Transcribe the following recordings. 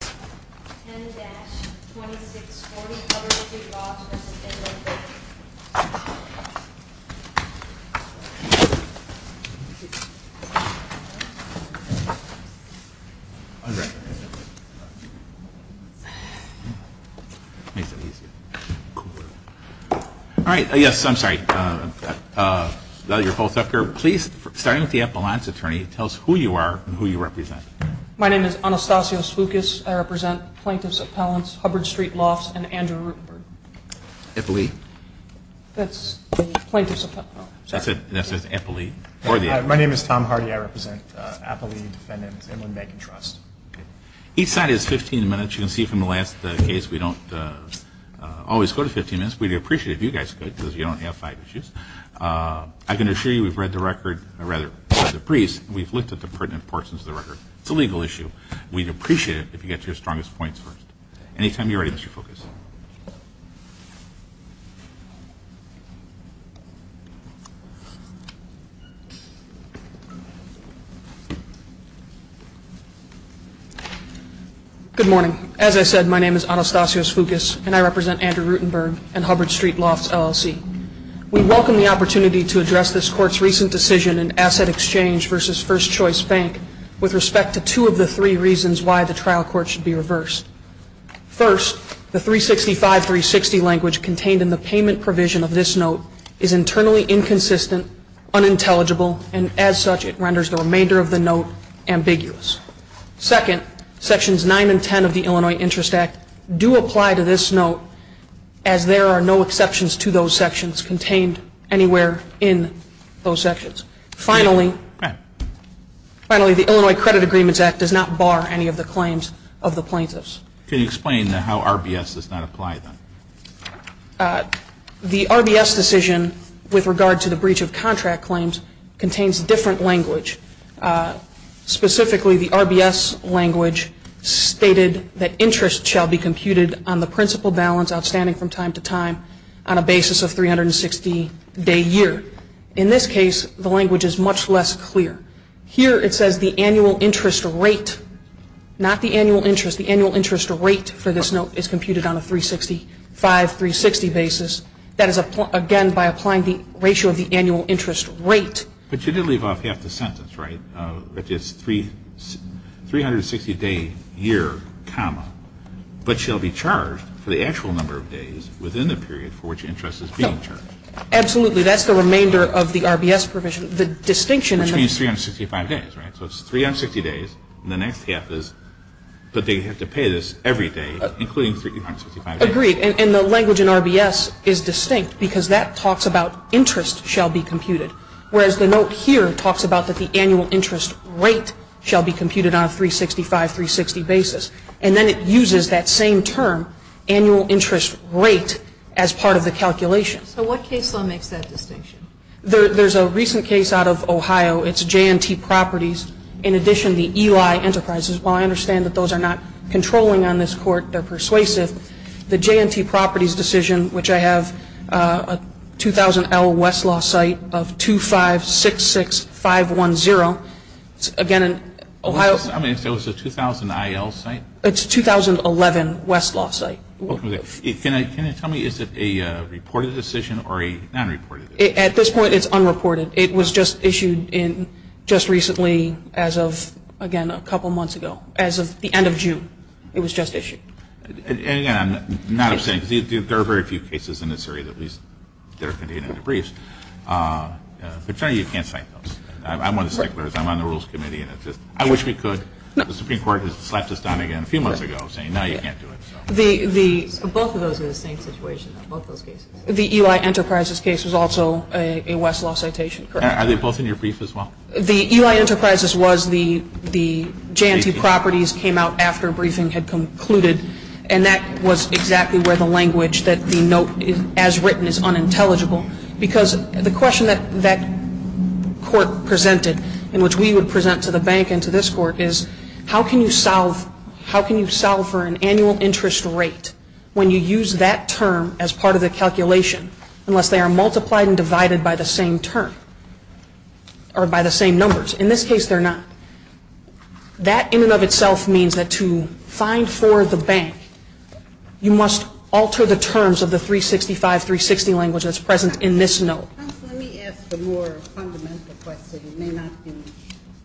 10-2640 Hubbard Street Lofts v. Inland Bank All right, yes, I'm sorry. You're both up here. Please, starting with the Appalachian attorney, tell us who you are and who you represent. My name is Anastasios Foukas. I represent Plaintiff's Appellants, Hubbard Street Lofts, and Andrew Rutenberg. Appalee? That's the Plaintiff's Appellant. That's it. That's Appalee. My name is Tom Hardy. I represent Appalee Defendant Inland Bank and Trust. Each side is 15 minutes. You can see from the last case we don't always go to 15 minutes. We'd appreciate it if you guys could because you don't have five issues. I can assure you we've read the record, or rather, the briefs, and we've looked at the pertinent portions of the record. It's a legal issue. We'd appreciate it if you got your strongest points first. Anytime you're ready, Mr. Foukas. Good morning. As I said, my name is Anastasios Foukas, and I represent Andrew Rutenberg and Hubbard Street Lofts LLC. We welcome the opportunity to address this Court's recent decision in Asset Exchange v. First Choice Bank with respect to two of the three reasons why the trial court should be reversed. First, the 365-360 language contained in the payment provision of this note is internally inconsistent, unintelligible, and as such, it renders the remainder of the note ambiguous. Second, Sections 9 and 10 of the Illinois Interest Act do apply to this note, as there are no exceptions to those sections contained anywhere in those sections. Finally, the Illinois Credit Agreements Act does not bar any of the claims of the plaintiffs. Can you explain how RBS does not apply then? The RBS decision with regard to the breach of contract claims contains different language, specifically the RBS language stated that interest shall be computed on the principal balance outstanding from time to time on a basis of 360-day year. In this case, the language is much less clear. Here it says the annual interest rate, not the annual interest. The annual interest rate for this note is computed on a 365-360 basis. That is, again, by applying the ratio of the annual interest rate. But you did leave off half the sentence, right, which is 360-day year, comma, but shall be charged for the actual number of days within the period for which interest is being charged. Absolutely. That's the remainder of the RBS provision. The distinction in the provision. Which means 365 days, right? So it's 360 days, and the next half is, but they have to pay this every day, including 365 days. Agreed. And the language in RBS is distinct because that talks about interest shall be computed, whereas the note here talks about that the annual interest rate shall be computed on a 365-360 basis. And then it uses that same term, annual interest rate, as part of the calculation. So what case law makes that distinction? There's a recent case out of Ohio. It's J&T Properties. In addition, the Eli Enterprises. While I understand that those are not controlling on this court, they're persuasive, the J&T Properties decision, which I have, a 2000L Westlaw site of 2566510. Again, in Ohio. I mean, is that a 2000IL site? It's a 2011 Westlaw site. Can you tell me, is it a reported decision or a non-reported decision? At this point, it's unreported. It was just issued just recently as of, again, a couple months ago. As of the end of June, it was just issued. And, again, I'm not abstaining. There are very few cases in this area that at least are contained in the briefs. But generally, you can't cite those. I'm one of the sticklers. I'm on the Rules Committee, and it's just, I wish we could. The Supreme Court has slapped us down again a few months ago saying, no, you can't do it. Both of those are the same situation, both those cases. The Eli Enterprises case was also a Westlaw citation, correct? Are they both in your brief as well? The Eli Enterprises was the J&T properties came out after a briefing had concluded, and that was exactly where the language that the note, as written, is unintelligible. Because the question that that court presented, and which we would present to the bank and to this court, is, how can you solve for an annual interest rate when you use that term as part of the calculation, unless they are multiplied and divided by the same term, or by the same numbers? In this case, they're not. That in and of itself means that to find for the bank, you must alter the terms of the 365, 360 language that's present in this note. Let me ask a more fundamental question. It may not be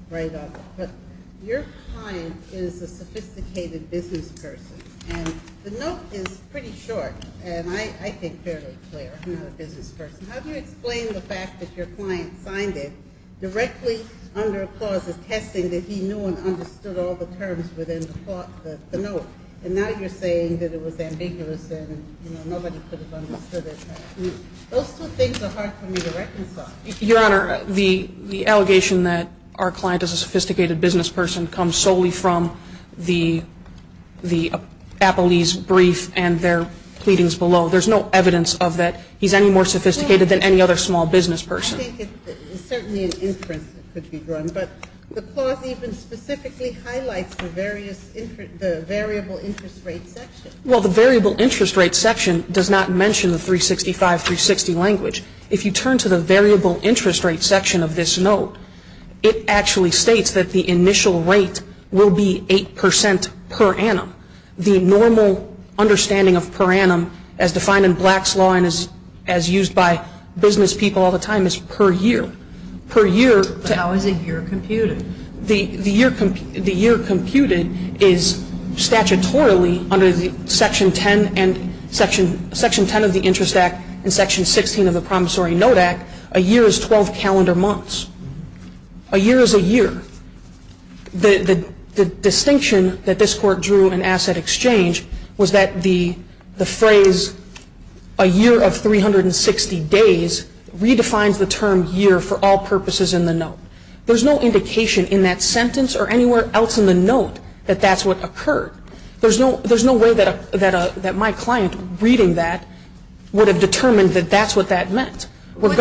right off the cuff. Your client is a sophisticated business person, and the note is pretty short, and I think fairly clear. I'm not a business person. How do you explain the fact that your client signed it directly under a clause attesting that he knew and understood all the terms within the note, and now you're saying that it was ambiguous and nobody could have understood it? Those two things are hard for me to reconcile. Your Honor, the allegation that our client is a sophisticated business person comes solely from the Appellee's brief and their pleadings below. There's no evidence of that he's any more sophisticated than any other small business person. I think it's certainly an interest that could be drawn, but the clause even specifically highlights the variable interest rate section. Well, the variable interest rate section does not mention the 365, 360 language. If you turn to the variable interest rate section of this note, it actually states that the initial rate will be 8 percent per annum. The normal understanding of per annum as defined in Black's Law and as used by business people all the time is per year. How is a year computed? The year computed is statutorily under Section 10 of the Interest Act and Section 16 of the Promissory Note Act. A year is 12 calendar months. A year is a year. The distinction that this Court drew in Asset Exchange was that the phrase a year of 360 days redefines the term year for all purposes in the note. There's no indication in that sentence or anywhere else in the note that that's what occurred. There's no way that my client reading that would have determined that that's what that meant. Wouldn't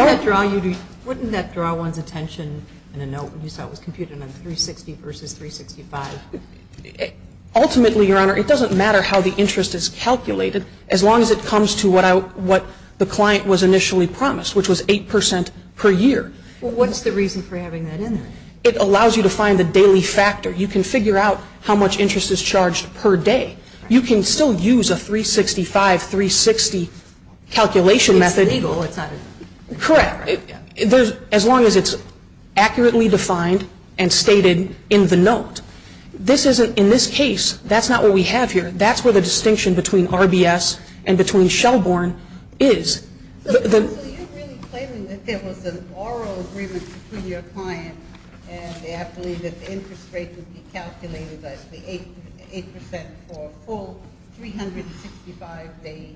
that draw one's attention in a note when you saw it was computed on 360 versus 365? Ultimately, Your Honor, it doesn't matter how the interest is calculated as long as it comes to what the client was initially promised, which was 8 percent per year. Well, what's the reason for having that in there? It allows you to find the daily factor. You can figure out how much interest is charged per day. You can still use a 365, 360 calculation method. It's legal. Correct. As long as it's accurately defined and stated in the note. In this case, that's not what we have here. That's where the distinction between RBS and between Shelborn is. So you're really claiming that there was an oral agreement between your client and the athlete that the interest rate would be calculated as the 8 percent for a full 365-day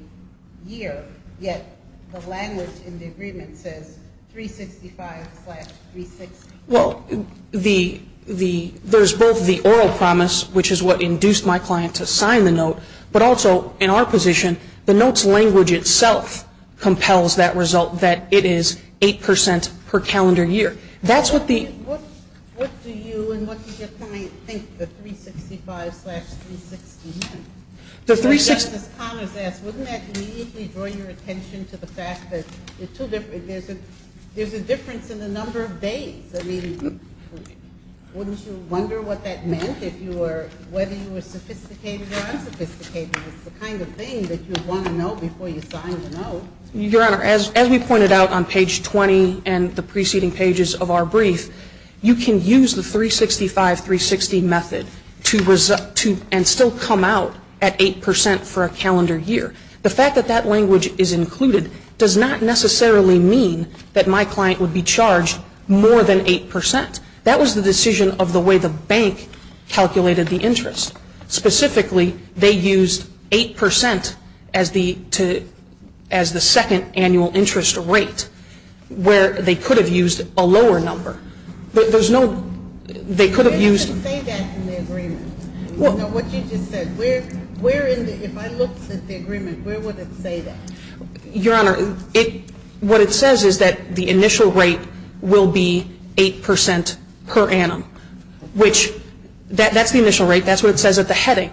year, yet the language in the agreement says 365 slash 360. Well, there's both the oral promise, which is what induced my client to sign the note, but also, in our position, the note's language itself compels that result, that it is 8 percent per calendar year. What do you and what did your client think the 365 slash 360 meant? Just as Connors asked, wouldn't that immediately draw your attention to the fact that there's a difference in the number of days? I mean, wouldn't you wonder what that meant, whether you were sophisticated or unsophisticated? It's the kind of thing that you'd want to know before you signed the note. Your Honor, as we pointed out on page 20 and the preceding pages of our brief, you can use the 365-360 method and still come out at 8 percent for a calendar year. The fact that that language is included does not necessarily mean that my client would be charged more than 8 percent. That was the decision of the way the bank calculated the interest. Specifically, they used 8 percent as the second annual interest rate, where they could have used a lower number. There's no – they could have used – They didn't say that in the agreement. What you just said. If I looked at the agreement, where would it say that? Your Honor, it – what it says is that the initial rate will be 8 percent per annum, which – that's the initial rate. That's what it says at the heading.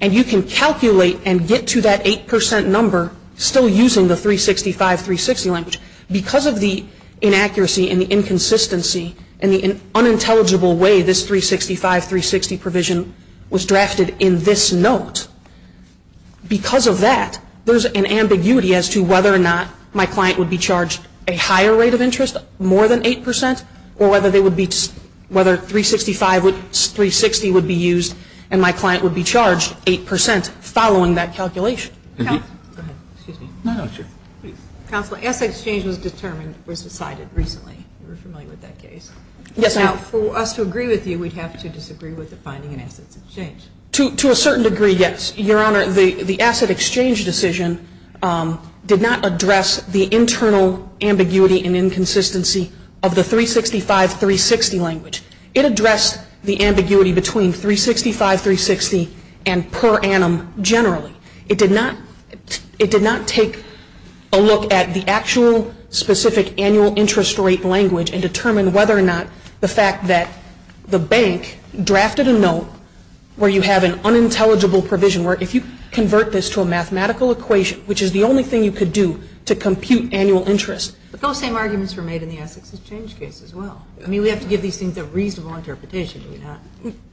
And you can calculate and get to that 8 percent number still using the 365-360 language. Because of the inaccuracy and the inconsistency and the unintelligible way this 365-360 provision was drafted in this note, because of that, there's an ambiguity as to whether or not my client would be charged a higher rate of interest, more than 8 percent, or whether they would be – whether 365-360 would be used and my client would be charged 8 percent following that calculation. Counselor, asset exchange was determined – was decided recently. You're familiar with that case. Yes, I am. Now, for us to agree with you, we'd have to disagree with the finding in assets exchange. To a certain degree, yes. Your Honor, the asset exchange decision did not address the internal ambiguity and inconsistency of the 365-360 language. It addressed the ambiguity between 365-360 and per annum generally. It did not – it did not take a look at the actual specific annual interest rate language and determine whether or not the fact that the bank drafted a note where you have an unintelligible provision, where if you convert this to a mathematical equation, which is the only thing you could do to compute annual interest. But those same arguments were made in the assets exchange case as well. I mean, we have to give these things a reasonable interpretation, do we not?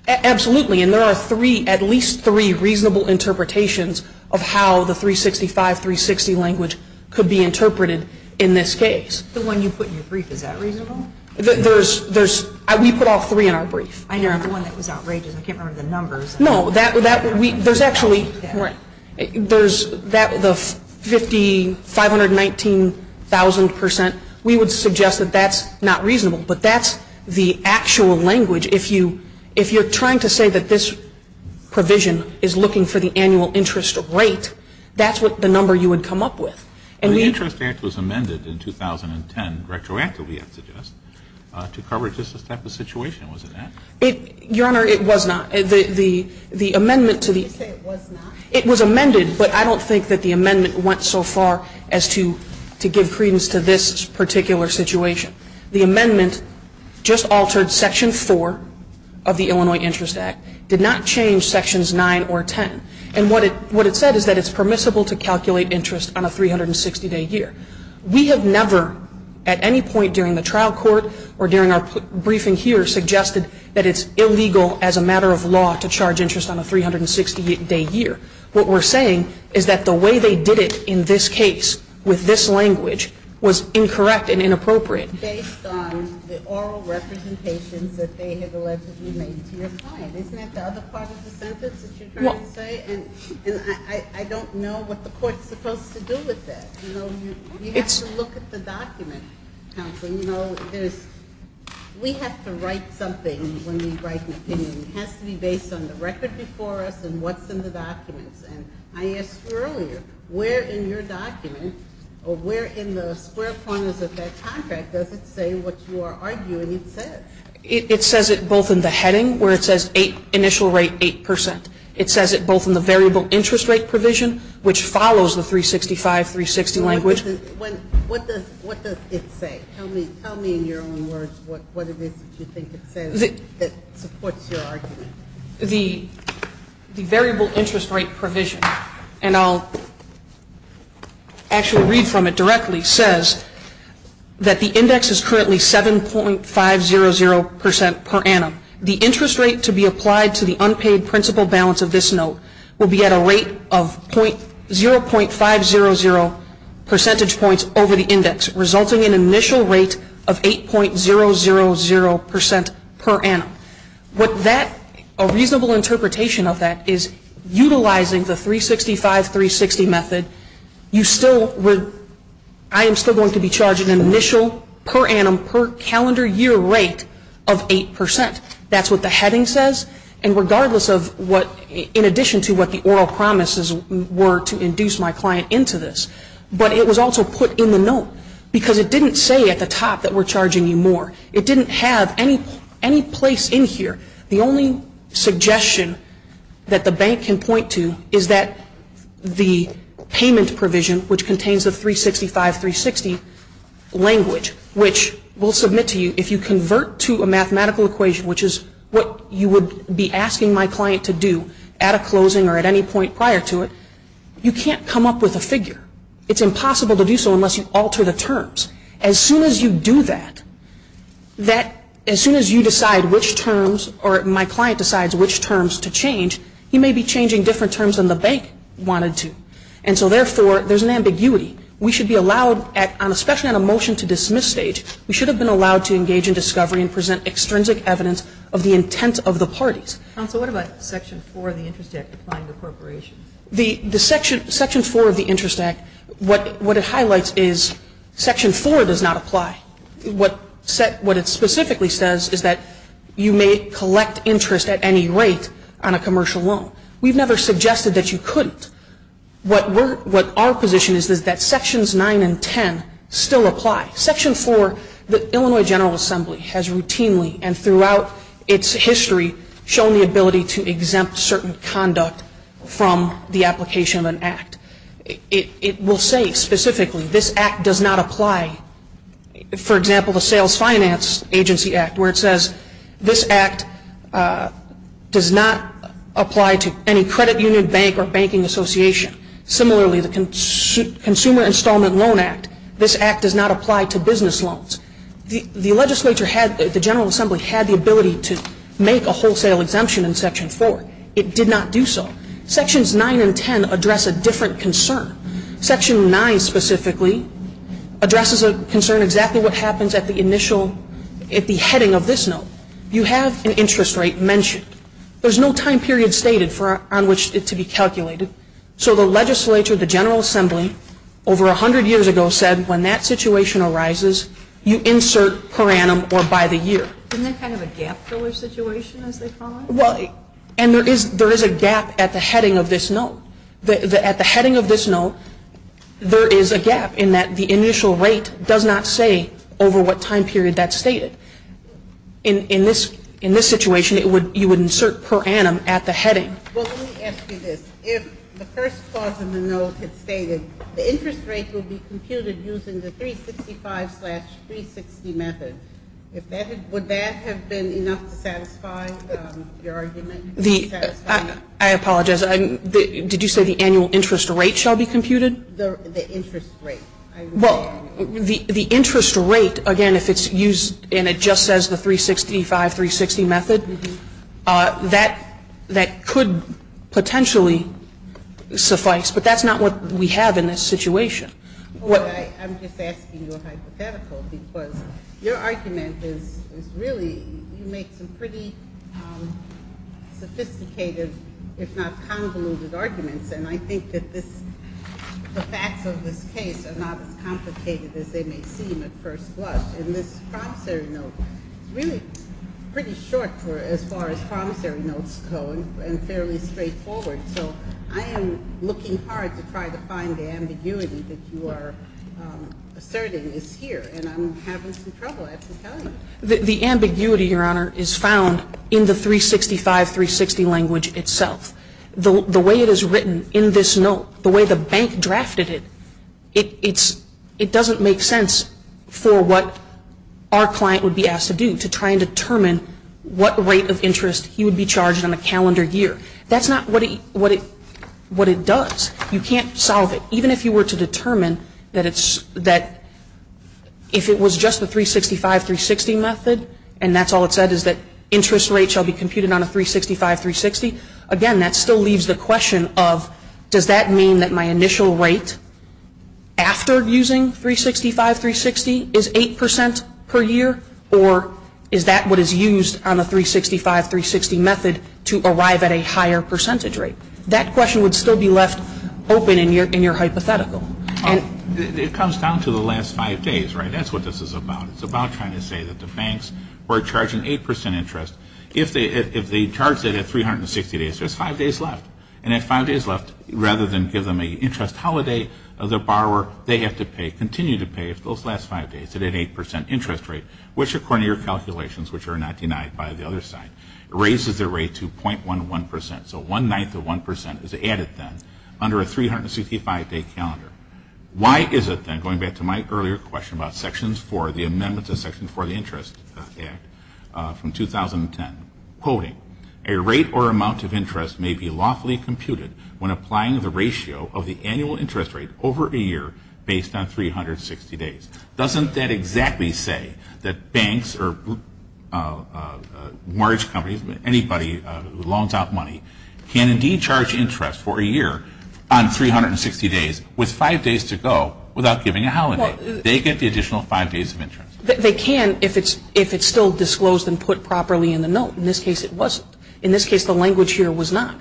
Absolutely. And there are three – at least three reasonable interpretations of how the 365-360 language could be interpreted in this case. The one you put in your brief, is that reasonable? There's – we put all three in our brief. I know, the one that was outrageous. I can't remember the numbers. No, that – there's actually – there's the 50 – 519,000 percent. We would suggest that that's not reasonable. But that's the actual language. If you're trying to say that this provision is looking for the annual interest rate, that's the number you would come up with. The interest act was amended in 2010, retroactively, I suggest, to cover just this type of situation. Was it not? Your Honor, it was not. The amendment to the – Did you say it was not? It was amended, but I don't think that the amendment went so far as to give credence to this particular situation. The amendment just altered section 4 of the Illinois Interest Act, did not change sections 9 or 10. And what it – what it said is that it's permissible to calculate interest on a 360-day year. We have never, at any point during the trial court or during our briefing here, suggested that it's illegal as a matter of law to charge interest on a 360-day year. What we're saying is that the way they did it in this case, with this language, was incorrect and inappropriate. Based on the oral representations that they have allegedly made to your client. Isn't that the other part of the sentence that you're trying to say? And I don't know what the court's supposed to do with that. You know, you have to look at the document, counsel. You know, there's – we have to write something when we write an opinion. It has to be based on the record before us and what's in the documents. And I asked you earlier, where in your document, or where in the square corners of that contract, does it say what you are arguing it says? It says it both in the heading, where it says initial rate 8 percent. It says it both in the variable interest rate provision, which follows the 365-360 language. What does it say? Tell me in your own words what it is that you think it says that supports your argument. The variable interest rate provision, and I'll actually read from it directly, says that the index is currently 7.500 percent per annum. The interest rate to be applied to the unpaid principal balance of this note will be at a rate of 0.500 percentage points over the index, resulting in an initial rate of 8.000 percent per annum. What that – a reasonable interpretation of that is utilizing the 365-360 method, you still – I am still going to be charging an initial per annum, per calendar year rate of 8 percent. That's what the heading says. And regardless of what – in addition to what the oral promises were to induce my client into this. But it was also put in the note because it didn't say at the top that we're charging you more. It didn't have any place in here. The only suggestion that the bank can point to is that the payment provision, which contains the 365-360 language, which will submit to you if you convert to a mathematical equation, which is what you would be asking my client to do at a closing or at any point prior to it, you can't come up with a figure. It's impossible to do so unless you alter the terms. As soon as you do that, that – as soon as you decide which terms or my client decides which terms to change, he may be changing different terms than the bank wanted to. And so therefore, there's an ambiguity. We should be allowed at – especially on a motion to dismiss stage, we should have been allowed to engage in discovery and present extrinsic evidence of the intent of the parties. Counsel, what about Section 4 of the Interest Act applying to corporations? Section 4 of the Interest Act, what it highlights is Section 4 does not apply. What it specifically says is that you may collect interest at any rate on a commercial loan. We've never suggested that you couldn't. What our position is is that Sections 9 and 10 still apply. Section 4, the Illinois General Assembly has routinely and throughout its history shown the ability to exempt certain conduct from the application of an act. It will say specifically, this act does not apply. For example, the Sales Finance Agency Act, where it says, this act does not apply to any credit union, bank, or banking association. Similarly, the Consumer Installment Loan Act, this act does not apply to business loans. The legislature had – the General Assembly had the ability to make a wholesale exemption in Section 4. It did not do so. Sections 9 and 10 address a different concern. Section 9 specifically addresses a concern exactly what happens at the initial – at the heading of this note. You have an interest rate mentioned. There's no time period stated on which it to be calculated. So the legislature, the General Assembly, over 100 years ago said, when that situation arises, you insert per annum or by the year. Isn't that kind of a gap filler situation, as they call it? Well, and there is a gap at the heading of this note. At the heading of this note, there is a gap in that the initial rate does not say over what time period that's stated. In this situation, you would insert per annum at the heading. Well, let me ask you this. If the first clause in the note had stated the interest rate will be computed using the 365-360 method, would that have been enough to satisfy your argument? I apologize. Did you say the annual interest rate shall be computed? The interest rate. Well, the interest rate, again, if it's used and it just says the 365-360 method, that could potentially suffice. But that's not what we have in this situation. I'm just asking you a hypothetical because your argument is really, you make some pretty sophisticated, if not convoluted arguments. And I think that the facts of this case are not as complicated as they may seem at first glance. And this promissory note is really pretty short as far as promissory notes go and fairly straightforward. So I am looking hard to try to find the ambiguity that you are asserting is here. And I'm having some trouble actually telling you. The ambiguity, Your Honor, is found in the 365-360 language itself. The way it is written in this note, the way the bank drafted it, it doesn't make sense for what our client would be asked to do to try and determine what rate of interest he would be charged on a calendar year. That's not what it does. You can't solve it. Even if you were to determine that if it was just the 365-360 method and that's all it said is that interest rate shall be computed on a 365-360, again, that still leaves the question of does that mean that my initial rate after using 365-360 is 8% per year or is that what is used on a 365-360 method to arrive at a higher percentage rate? That question would still be left open in your hypothetical. It comes down to the last five days, right? That's what this is about. It's about trying to say that the banks were charging 8% interest. If they charged it at 360 days, there's five days left. And at five days left, rather than give them an interest holiday, the borrower, they have to pay, continue to pay, those last five days at an 8% interest rate, which according to your calculations, which are not denied by the other side, raises the rate to 0.11%. So one-ninth of 1% is added then under a 365-day calendar. Why is it then, going back to my earlier question about Sections 4, the amendments to Section 4 of the Interest Act from 2010, quoting, a rate or amount of interest may be lawfully computed when applying the ratio of the annual interest rate over a year based on 360 days. Doesn't that exactly say that banks or large companies, anybody who loans out money, can indeed charge interest for a year on 360 days with five days to go without giving a holiday? They get the additional five days of interest. They can if it's still disclosed and put properly in the note. In this case, it wasn't. In this case, the language here was not.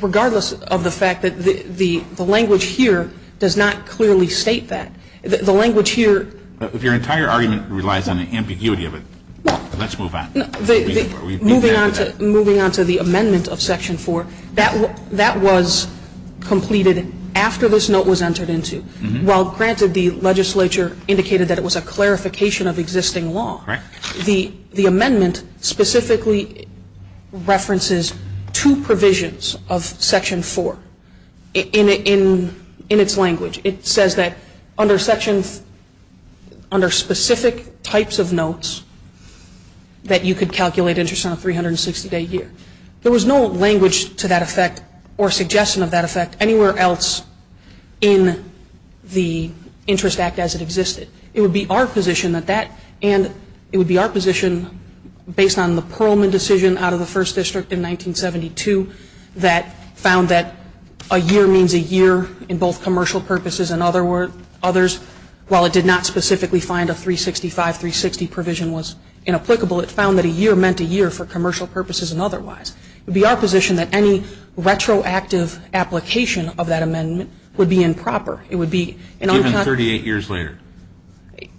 Regardless of the fact that the language here does not clearly state that. The language here If your entire argument relies on the ambiguity of it, let's move on. Moving on to the amendment of Section 4, that was completed after this note was entered into. While, granted, the legislature indicated that it was a clarification of existing law, the amendment specifically references two provisions of Section 4 in its language. It says that under specific types of notes that you could calculate interest on a 360-day year. There was no language to that effect or suggestion of that effect anywhere else in the Interest Act as it existed. It would be our position that that and it would be our position based on the Perlman decision out of the First District in 1972 that found that a year means a year in both commercial purposes and others. While it did not specifically find a 365, 360 provision was inapplicable, it found that a year meant a year for commercial purposes and otherwise. It would be our position that any retroactive application of that amendment would be improper. It would be Given 38 years later.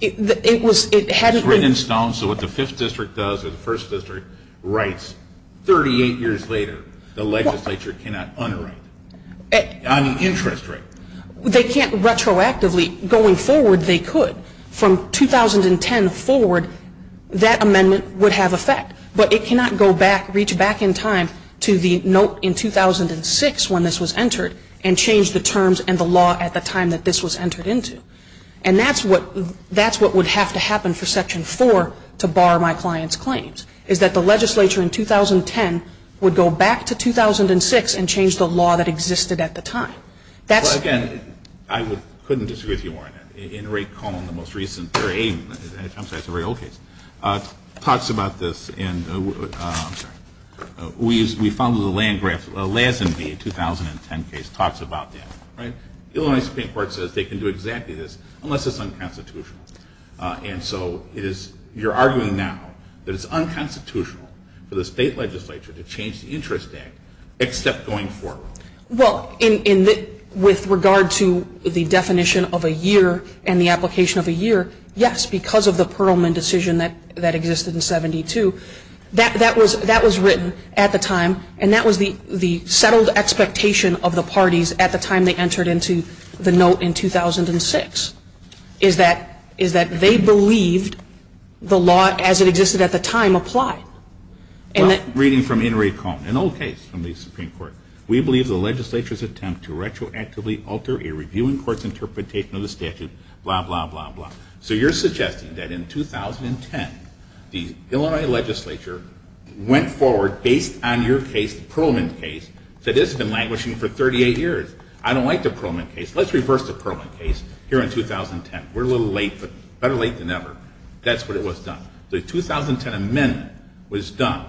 It was written in stone, so what the Fifth District does or the First District writes 38 years later, the legislature cannot underwrite on the interest rate. They can't retroactively. Going forward, they could. From 2010 forward, that amendment would have effect. But it cannot go back, reach back in time to the note in 2006 when this was entered and change the terms and the law at the time that this was entered into. And that's what would have to happen for Section 4 to bar my client's claims, is that the legislature in 2010 would go back to 2006 and change the law that existed at the time. Well, again, I couldn't disagree with you on that. In a recall in the most recent period, and it comes back to a very old case, talks about this and we found the LASMB 2010 case talks about that. Illinois Supreme Court says they can do exactly this unless it's unconstitutional. And so you're arguing now that it's unconstitutional for the state legislature to change the Interest Act except going forward. Well, with regard to the definition of a year and the application of a year, yes, because of the Perlman decision that existed in 72, that was written at the time and that was the settled expectation of the parties at the time they entered into the note in 2006, is that they believed the law as it existed at the time applied. Reading from Henry Cohn, an old case from the Supreme Court. We believe the legislature's attempt to retroactively alter a reviewing court's interpretation of the statute, blah, blah, blah, blah. So you're suggesting that in 2010 the Illinois legislature went forward based on your case, the Perlman case, that it's been languishing for 38 years. I don't like the Perlman case. Let's reverse the Perlman case here in 2010. We're a little late, but better late than never. That's what it was done. The 2010 amendment was done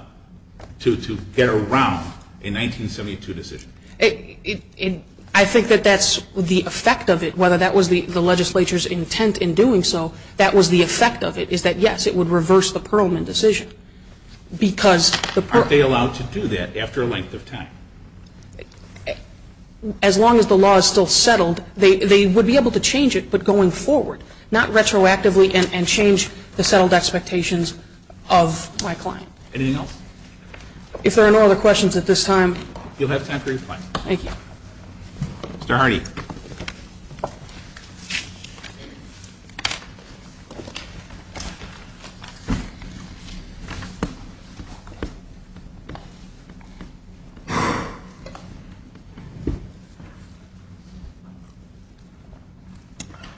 to get around a 1972 decision. I think that that's the effect of it. Whether that was the legislature's intent in doing so, that was the effect of it, is that, yes, it would reverse the Perlman decision because the Perlman. Aren't they allowed to do that after a length of time? As long as the law is still settled, they would be able to change it, but going forward. Not retroactively and change the settled expectations of my client. Anything else? If there are no other questions at this time. You'll have time for your questions. Thank you. Mr. Hardy.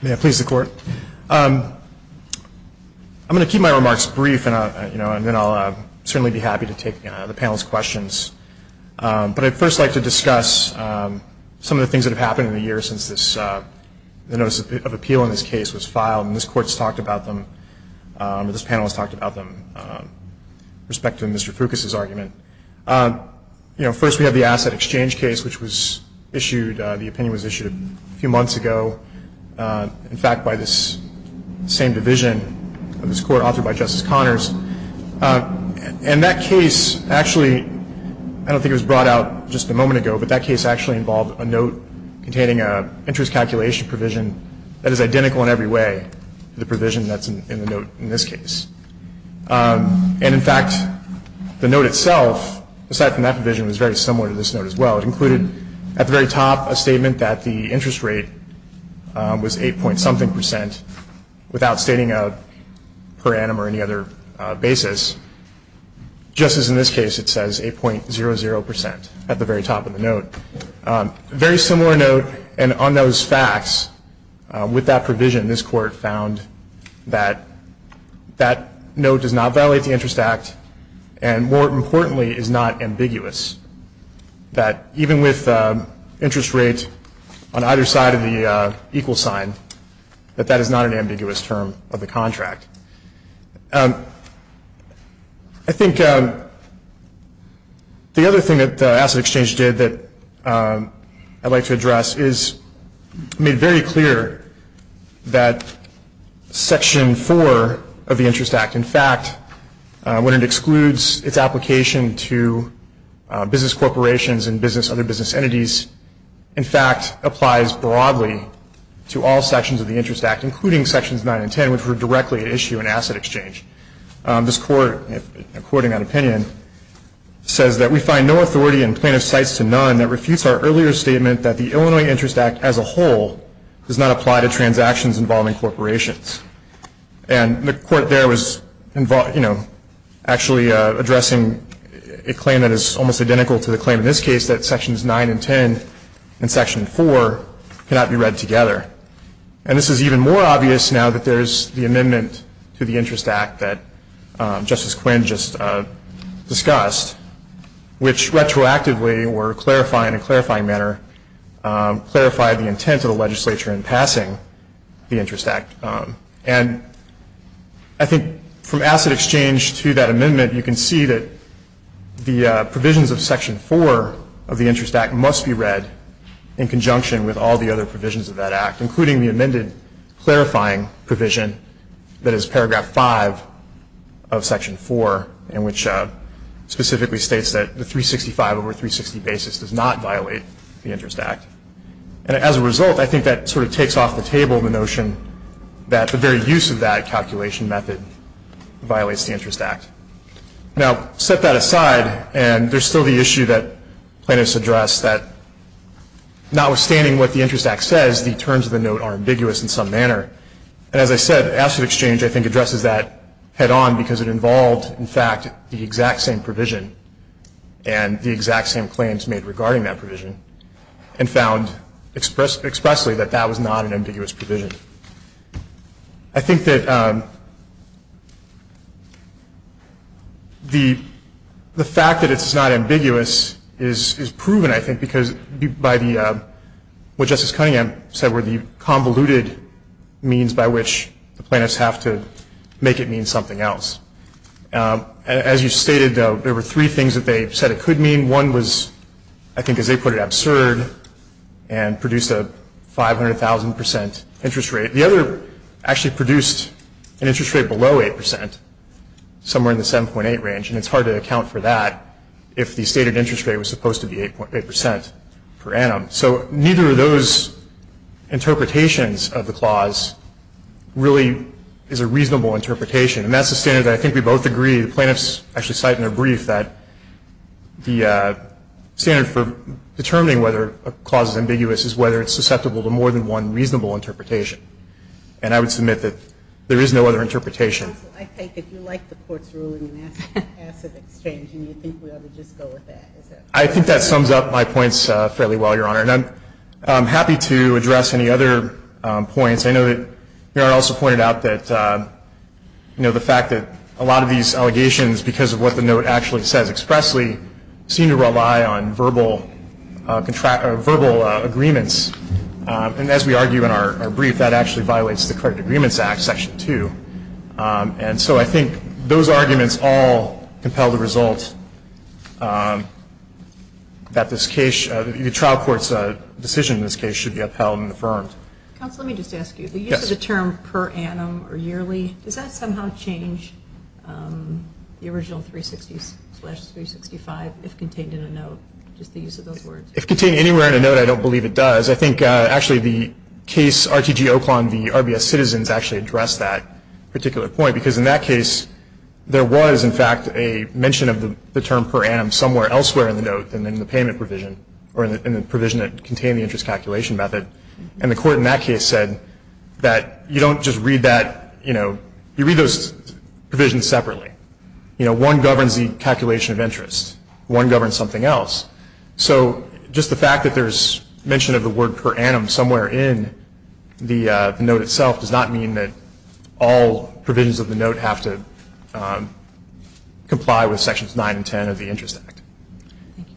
May I please the court? I'm going to keep my remarks brief, and then I'll certainly be happy to take the panel's questions. But I'd first like to discuss some of the things that have happened in the years since the notice of appeal in this case was filed. And this panel has talked about them with respect to Mr. Foucault's argument. First, we have the asset exchange case, which the opinion was issued a few months ago, in fact, by this same division of this court authored by Justice Connors. And that case actually, I don't think it was brought out just a moment ago, but that case actually involved a note containing an interest calculation provision that is identical in every way to the provision that's in the note in this case. And, in fact, the note itself, aside from that provision, was very similar to this note as well. It included at the very top a statement that the interest rate was 8-point-something percent without stating a per annum or any other basis. Just as in this case, it says 8-point-0-0 percent at the very top of the note. A very similar note, and on those facts, with that provision, this court found that that note does not violate the Interest Act and, more importantly, is not ambiguous. That even with interest rates on either side of the equal sign, that that is not an ambiguous term of the contract. I think the other thing that the Asset Exchange did that I'd like to address is made very clear that Section 4 of the Interest Act, in fact, when it excludes its application to business corporations and other business entities, in fact, applies broadly to all sections of the Interest Act, including Sections 9 and 10, which were directly at issue in Asset Exchange. This court, in quoting that opinion, says that we find no authority in plaintiff's cites to none that refutes our earlier statement that the Illinois Interest Act as a whole does not apply to transactions involving corporations. And the court there was, you know, actually addressing a claim that is almost identical to the claim in this case, that Sections 9 and 10 and Section 4 cannot be read together. And this is even more obvious now that there is the amendment to the Interest Act that Justice Quinn just discussed, which retroactively or in a clarifying manner clarified the intent of the legislature in passing the Interest Act. And I think from Asset Exchange to that amendment you can see that the provisions of Section 4 of the Interest Act must be read in conjunction with all the other provisions of that act, including the amended clarifying provision that is Paragraph 5 of Section 4, in which specifically states that the 365 over 360 basis does not violate the Interest Act. And as a result, I think that sort of takes off the table the notion that the very use of that calculation method violates the Interest Act. Now, set that aside, and there's still the issue that plaintiffs address that notwithstanding what the Interest Act says, the terms of the note are ambiguous in some manner. And as I said, Asset Exchange, I think, addresses that head-on because it involved, in fact, the exact same provision and the exact same claims made regarding that provision. And found expressly that that was not an ambiguous provision. I think that the fact that it's not ambiguous is proven, I think, because by what Justice Cunningham said were the convoluted means by which the plaintiffs have to make it mean something else. As you stated, though, there were three things that they said it could mean. One was, I think as they put it, absurd and produced a 500,000 percent interest rate. The other actually produced an interest rate below 8 percent, somewhere in the 7.8 range. And it's hard to account for that if the stated interest rate was supposed to be 8 percent per annum. So neither of those interpretations of the clause really is a reasonable interpretation. And that's the standard that I think we both agree. The plaintiffs actually cite in their brief that the standard for determining whether a clause is ambiguous is whether it's susceptible to more than one reasonable interpretation. And I would submit that there is no other interpretation. I think if you like the Court's ruling on Asset Exchange, you think we ought to just go with that. I think that sums up my points fairly well, Your Honor. And I'm happy to address any other points. I know that Your Honor also pointed out that, you know, the fact that a lot of these allegations, because of what the note actually says expressly, seem to rely on verbal contract or verbal agreements. And as we argue in our brief, that actually violates the Correct Agreements Act, Section 2. And so I think those arguments all compel the result that this case, the trial court's decision in this case should be upheld and affirmed. Counsel, let me just ask you. Yes. The use of the term per annum or yearly, does that somehow change the original 360 slash 365 if contained in a note, just the use of those words? If contained anywhere in a note, I don't believe it does. I think actually the case RTG Oklahoma v. RBS Citizens actually addressed that particular point because in that case there was, in fact, a mention of the term per annum somewhere elsewhere in the note than in the payment provision or in the provision that contained the interest calculation method. And the court in that case said that you don't just read that, you know, you read those provisions separately. You know, one governs the calculation of interest. One governs something else. So just the fact that there's mention of the word per annum somewhere in the note itself does not mean that all provisions of the note have to comply with Sections 9 and 10 of the Interest Act. Thank you.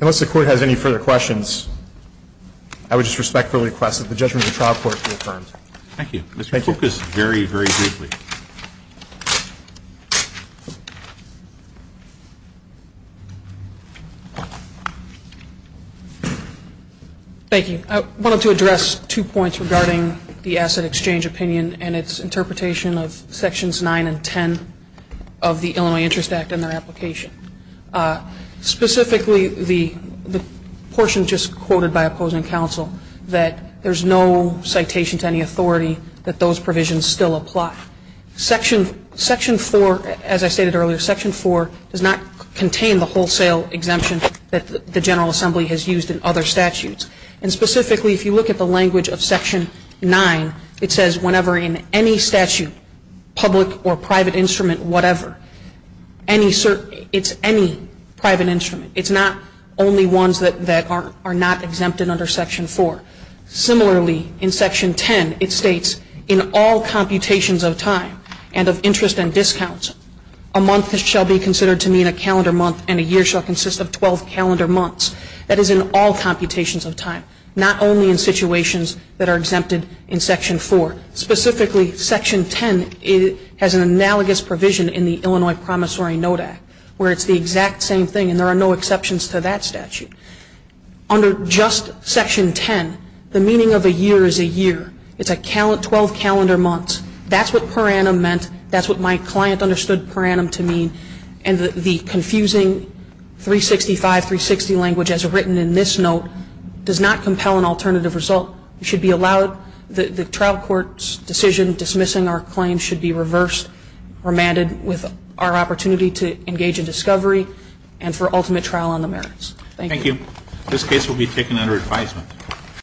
Unless the Court has any further questions, I would just respectfully request that the judgment of the trial court be affirmed. Thank you. Mr. Cook is very, very briefly. Thank you. I wanted to address two points regarding the asset exchange opinion and its interpretation of Sections 9 and 10 of the Illinois Interest Act and their application. Specifically, the portion just quoted by opposing counsel that there's no citation to any authority that those provisions still apply. Section 4, as I stated earlier, Section 4 does not contain the wholesale exemption that the General Assembly has used in other statutes. And specifically, if you look at the language of Section 9, it says whenever in any statute, public or private instrument, whatever, it's any private instrument. It's not only ones that are not exempted under Section 4. Similarly, in Section 10, it states in all computations of time and of interest and discounts, a month shall be considered to mean a calendar month and a year shall consist of 12 calendar months. That is in all computations of time, not only in situations that are exempted in Section 4. Specifically, Section 10 has an analogous provision in the Illinois Promissory Note Act where it's the exact same thing and there are no exceptions to that statute. Under just Section 10, the meaning of a year is a year. It's 12 calendar months. That's what per annum meant. That's what my client understood per annum to mean. And the confusing 365, 360 language as written in this note does not compel an alternative result. It should be allowed. The trial court's decision dismissing our claim should be reversed or mandated with our opportunity to engage in discovery and for ultimate trial on the merits. Thank you. Thank you. This case will be taken under advisement.